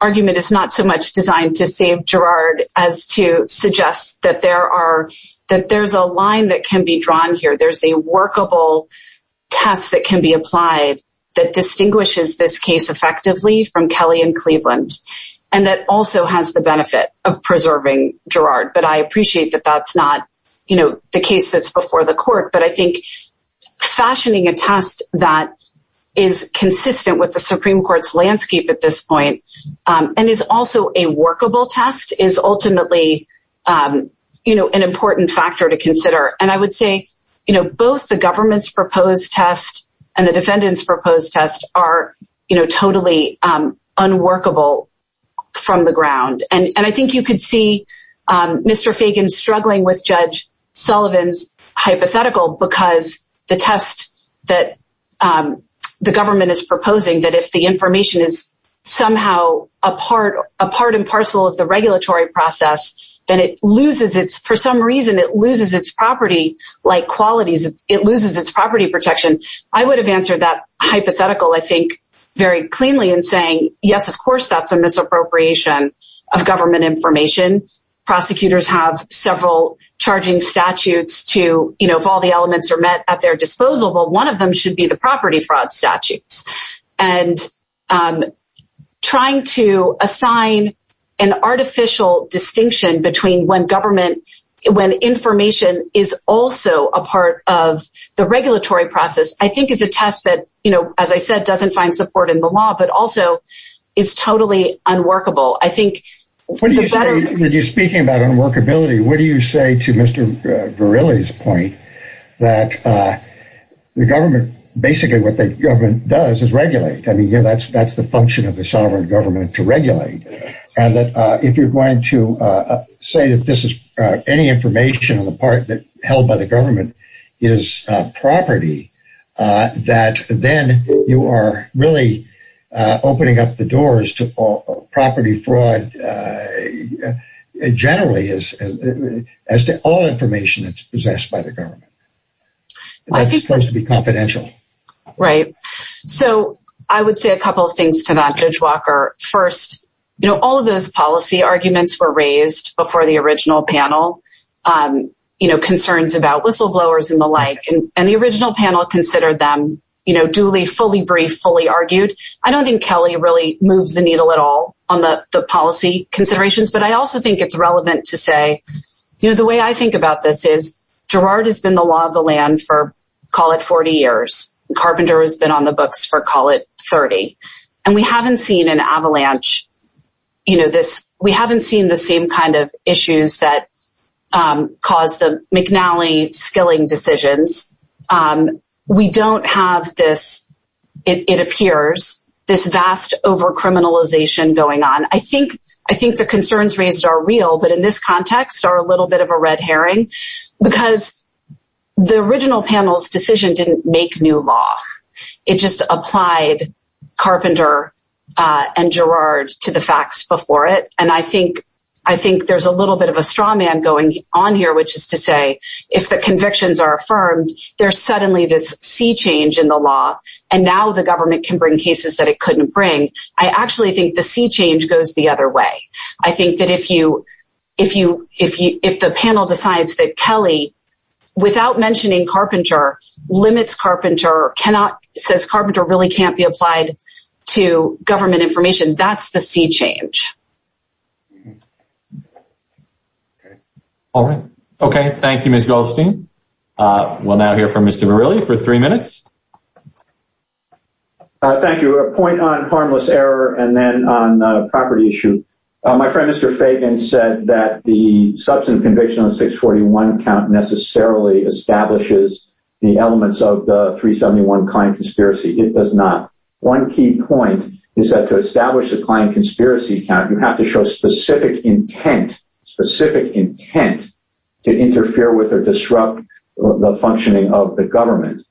argument is not so much designed to save Girard as to suggest that there's a line that can be drawn here. There's a workable test that can be applied that distinguishes this case effectively from Kelly and Cleveland. And that also has the benefit of preserving Girard. But I appreciate that that's not, you know, the case that's before the court. But I think fashioning a test that is consistent with the Supreme Court's landscape at this point and is also a workable test is ultimately, you know, an important factor to consider. And I would say, you know, both the government's proposed test and the defendant's proposed test are, you know, totally unworkable from the ground. And I think you could see Mr. Fagan struggling with Judge Sullivan's hypothetical because the test that the government is proposing that if the information is somehow a part and parcel of the regulatory process, then it loses its, for some reason, it loses its property-like qualities. It loses its property protection. I would have answered that hypothetical, I think, very cleanly in saying, yes, of course that's a misappropriation of government information. Prosecutors have several charging statutes to, you know, if all the elements are met at their disposal, well, one of them should be the property fraud statutes. And trying to assign an artificial distinction between when government, when information is also a part of the regulatory process, I think is a test that, you know, as I said, doesn't find support in the law, but also is totally unworkable. I think- When you're speaking about unworkability, what do you say to Mr. Verrilli's point that the government, basically what the government does is regulate. I mean, that's the function of the sovereign government to regulate. And that if you're going to say that this is, any information on the part that held by the government is property, that then you are really opening up the doors to property fraud, generally, as to all information that's possessed by the government. That's supposed to be confidential. Right. So I would say a couple of things to that, Judge Walker. First, you know, all of those policy arguments were raised before the original panel, you know, concerns about whistleblowers and the like. And the original panel considered them, you know, duly, fully brief, fully argued. I don't think Kelly really moves the needle at all on the policy considerations, but I also think it's relevant to say, you know, the way I think about this is Gerard has been the law of the land for, call it 40 years. Carpenter has been on the books for, call it 30. And we haven't seen an avalanche, you know, this, we haven't seen the same kind of issues that caused the McNally skilling decisions. We don't have this, it appears, this vast over-criminalization going on. I think the concerns raised are real, but in this context are a little bit of a red herring because the original panel's decision didn't make new law. It just applied Carpenter and Gerard to the facts before it. And I think there's a little bit of a straw man going on here, which is to say, if the convictions are affirmed, there's suddenly this sea change in the law and now the government can bring cases that it couldn't bring. I actually think the sea change goes the other way. I think that if the panel decides that Kelly, without mentioning Carpenter, limits Carpenter, cannot, says Carpenter really can't be applied to government information, that's the sea change. Okay. All right. Okay, thank you, Ms. Goldstein. We'll now hear from Mr. Morrelli for three minutes. Thank you. A point on harmless error and then on the property issue. My friend, Mr. Fagan, said that the substance conviction on the 641 count necessarily establishes the elements of the 371 client conspiracy. It does not. One key point is that to establish a client conspiracy count, you have to show specific intent, specific intent to interfere with or disrupt the functioning of the government.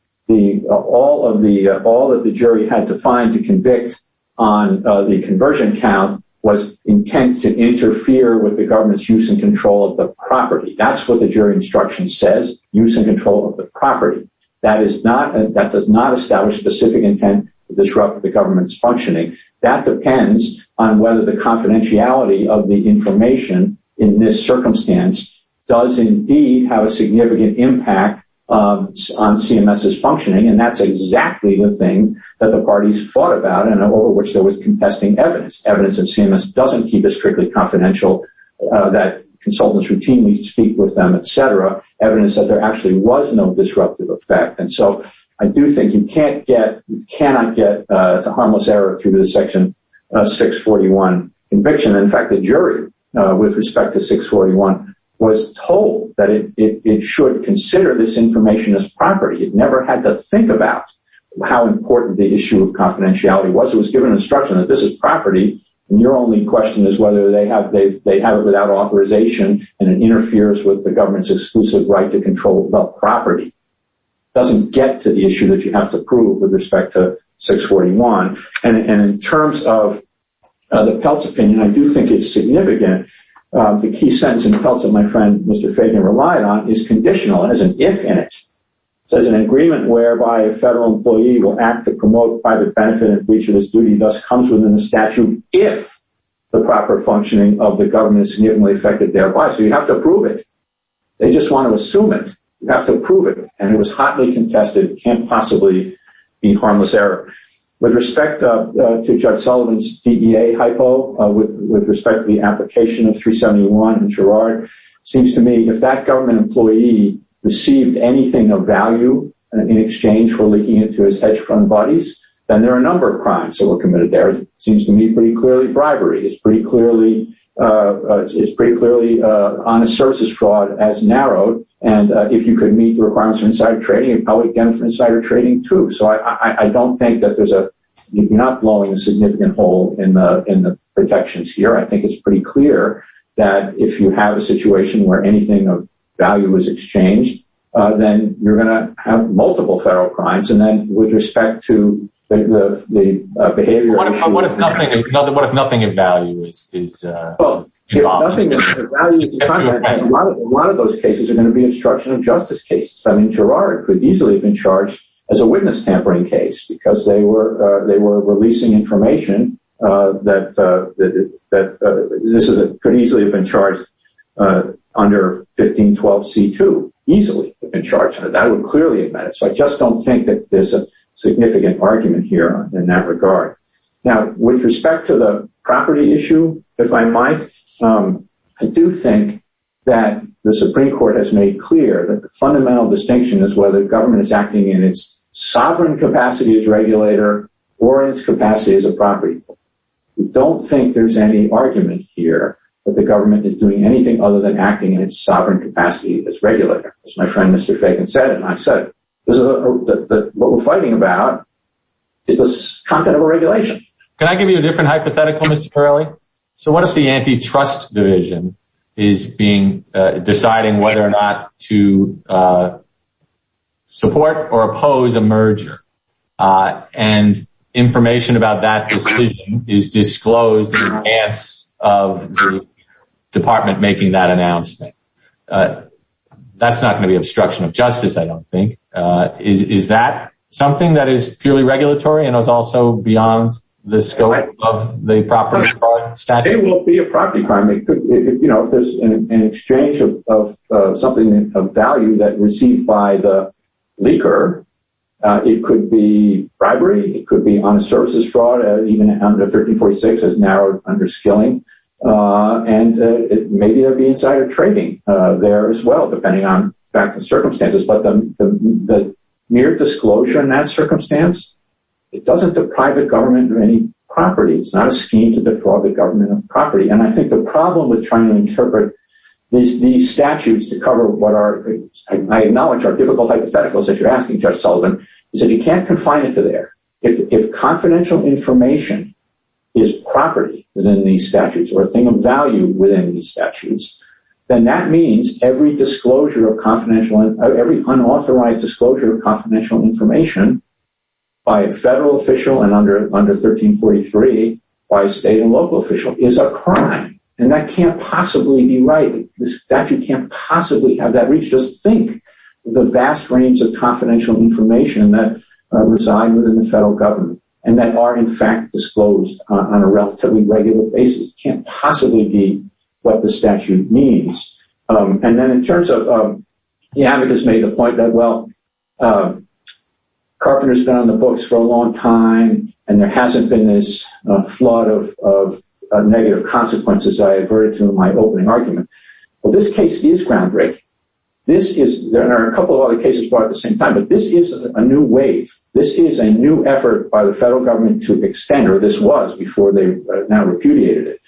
All that the jury had to find to convict on the conversion count was intent to interfere with the government's use and control of the property. That's what the jury instruction says, use and control of the property. That does not establish specific intent to disrupt the government's functioning. That depends on whether the confidentiality of the information in this circumstance does indeed have a significant impact on CMS's functioning. And that's exactly the thing that the parties fought about and over which there was contesting evidence. Evidence that CMS doesn't keep a strictly confidential, that consultants routinely speak with them, et cetera, evidence that there actually was no disruptive effect. And so I do think you can't get, you cannot get to harmless error through the section 641 conviction. In fact, the jury with respect to 641 was told that it should consider this information as property. It never had to think about how important the issue of confidentiality was. It was given instruction that this is property. And your only question is whether they have it without authorization and it interferes with the government's exclusive right to control the property. Doesn't get to the issue that you have to prove with respect to 641. And in terms of the Peltz opinion, I do think it's significant. The key sentence in Peltz that my friend, Mr. Fabian, relied on is conditional, has an if in it. It says an agreement whereby a federal employee will act to promote private benefit and breach of his duty thus comes within the statute if the proper functioning of the government is significantly affected thereby. So you have to prove it. They just want to assume it. You have to prove it. And it was hotly contested. It can't possibly be harmless error. With respect to Judge Sullivan's DEA hypo, with respect to the application of 371 in Girard, seems to me if that government employee received anything of value in exchange for leaking into his hedge fund buddies, then there are a number of crimes that were committed there. It seems to me pretty clearly bribery. It's pretty clearly honest services fraud as narrowed. And if you could meet the requirements for insider trading, probably again for insider trading too. So I don't think that there's a, you're not blowing a significant hole in the protections here. I think it's pretty clear that if you have a situation where anything of value is exchanged, then you're going to have multiple federal crimes. And then with respect to the behavior- What if nothing in value is involved? Well, if nothing in value is involved, a lot of those cases are going to be instruction of justice cases. I mean, Girard could easily have been charged as a witness tampering case because they were releasing information that could easily have been charged under 1512 C2, easily have been charged. That would clearly have met it. So I just don't think that there's a significant argument here in that regard. Now, with respect to the property issue, if I might, I do think that the Supreme Court has made clear that the fundamental distinction is whether the government is acting in its sovereign capacity as regulator or its capacity as a property. We don't think there's any argument here that the government is doing anything other than acting in its sovereign capacity as regulator. As my friend, Mr. Fagan said, and I've said, this is what we're fighting about is the content of a regulation. Can I give you a different hypothetical, Mr. Parley? So what if the antitrust division is being, deciding whether or not to support or oppose a merger and information about that decision is disclosed in advance of the department making that announcement. That's not going to be obstruction of justice, I don't think. Is that something that is purely regulatory and is also beyond the scope of the property statute? It will be a property crime. It could, you know, if there's an exchange of something of value that received by the leaker, it could be bribery, it could be honest services fraud, even under 1346 as narrowed under skilling. And maybe there'll be insider trading there as well, depending on facts and circumstances, but the mere disclosure in that circumstance, it doesn't deprive the government of any property. It's not a scheme to deprive the government of property. And I think the problem with trying to interpret these statutes to cover what are, I acknowledge are difficult hypotheticals that you're asking, Judge Sullivan, is that you can't confine it to there. If confidential information is property within these statutes or a thing of value within these statutes, then that means every disclosure of confidential, every unauthorized disclosure of confidential information by a federal official and under 1343 by a state and local official is a crime. And that can't possibly be right. The statute can't possibly have that reach. Just think the vast range of confidential information that reside within the federal government and that are in fact disclosed on a relatively regular basis can't possibly be what the statute means. And then in terms of, you haven't just made the point that, well, Carpenter's been on the books for a long time and there hasn't been this flood of negative consequences. I averted to my opening argument. Well, this case is groundbreaking. This is, there are a couple of other cases brought at the same time, but this is a new wave. This is a new effort by the federal government to extend, or this was before they now repudiated it,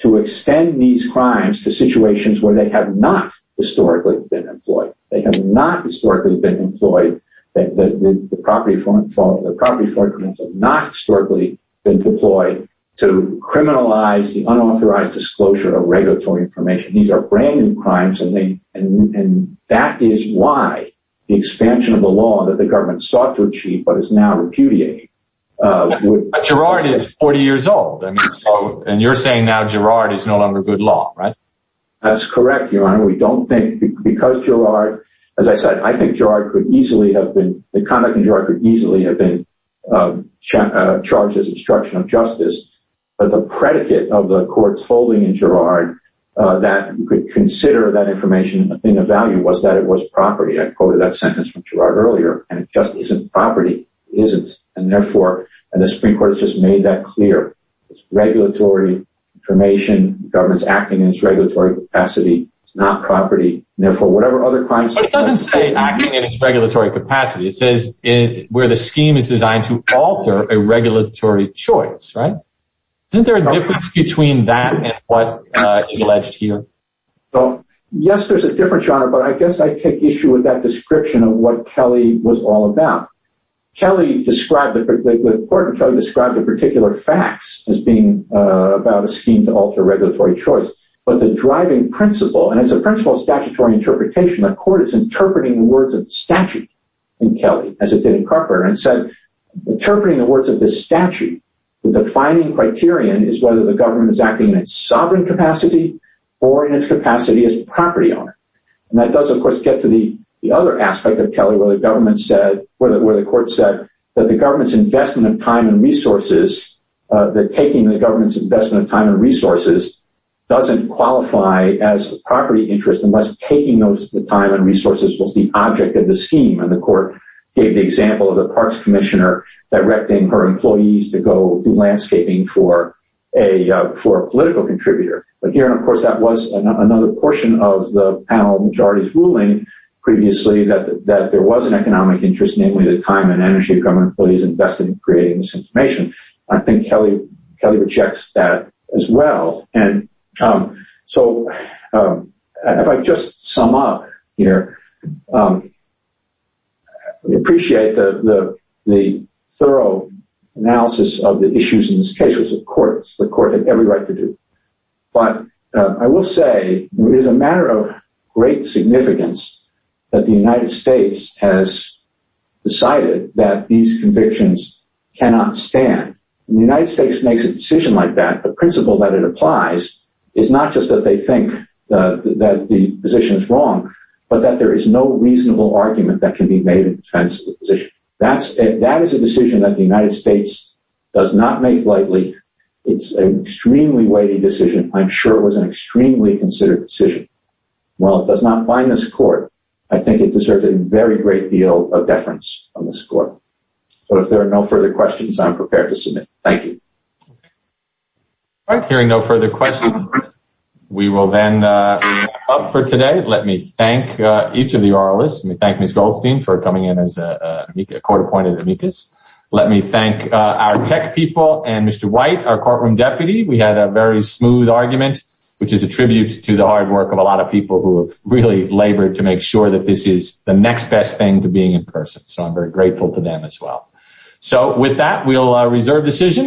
to extend these crimes to situations where they have not historically been employed. They have not historically been employed. The property forfeits have not historically been deployed to criminalize the unauthorized disclosure of regulatory information. These are brand new crimes. And that is why the expansion of the law that the government sought to achieve, but is now repudiating. Gerard is 40 years old. And you're saying now Gerard is no longer good law, right? That's correct, Your Honor. We don't think, because Gerard, as I said, I think Gerard could easily have been, the conduct in Gerard could easily have been charged as obstruction of justice. But the predicate of the court's holding in Gerard that could consider that information a thing of value was that it was property. I quoted that sentence from Gerard earlier. And it just isn't property, it isn't. And therefore, and the Supreme Court has just made that clear it's regulatory information, government's acting in its regulatory capacity, it's not property. And therefore, whatever other crimes- But it doesn't say acting in its regulatory capacity. It says where the scheme is designed to alter a regulatory choice, right? Isn't there a difference between that and what is alleged here? Well, yes, there's a difference, Your Honor. But I guess I take issue with that description of what Kelly was all about. Kelly described, the court described the particular facts as being about a scheme to alter regulatory choice. But the driving principle, and it's a principle of statutory interpretation, the court is interpreting the words of statute in Kelly as it did in Carper. And it said, interpreting the words of the statute, the defining criterion is whether the government is acting in its sovereign capacity or in its capacity as property owner. And that does, of course, get to the other aspect of Kelly where the government said, where the court said that the government's investment of time and resources that taking the government's investment of time and resources doesn't qualify as property interest unless taking those time and resources was the object of the scheme. And the court gave the example of the parks commissioner directing her employees to go do landscaping for a political contributor. But here, of course, that was another portion of the panel majority's ruling previously that there was an economic interest, namely the time and energy of government employees invested in creating this information. I think Kelly rejects that as well. And so, if I just sum up here, we appreciate the thorough analysis of the issues in this case, it was the court. The court had every right to do. But I will say it is a matter of great significance that the United States has decided that these convictions cannot stand. The United States makes a decision like that, the principle that it applies is not just that they think that the position is wrong, but that there is no reasonable argument that can be made in defense of the position. That is a decision that the United States does not make lightly. It's an extremely weighty decision. I'm sure it was an extremely considered decision. While it does not bind this court, I think it deserves a very great deal of deference on this court. But if there are no further questions, I'm prepared to submit. Thank you. All right, hearing no further questions, we will then wrap up for today. Let me thank each of the oralists. Let me thank Ms. Goldstein for coming in as a court appointed amicus. Let me thank our tech people and Mr. White, our courtroom deputy. We had a very smooth argument, which is a tribute to the hard work of a lot of people who have really labored to make sure that this is the next best thing to being in person. So I'm very grateful to them as well. So with that, we'll reserve decision.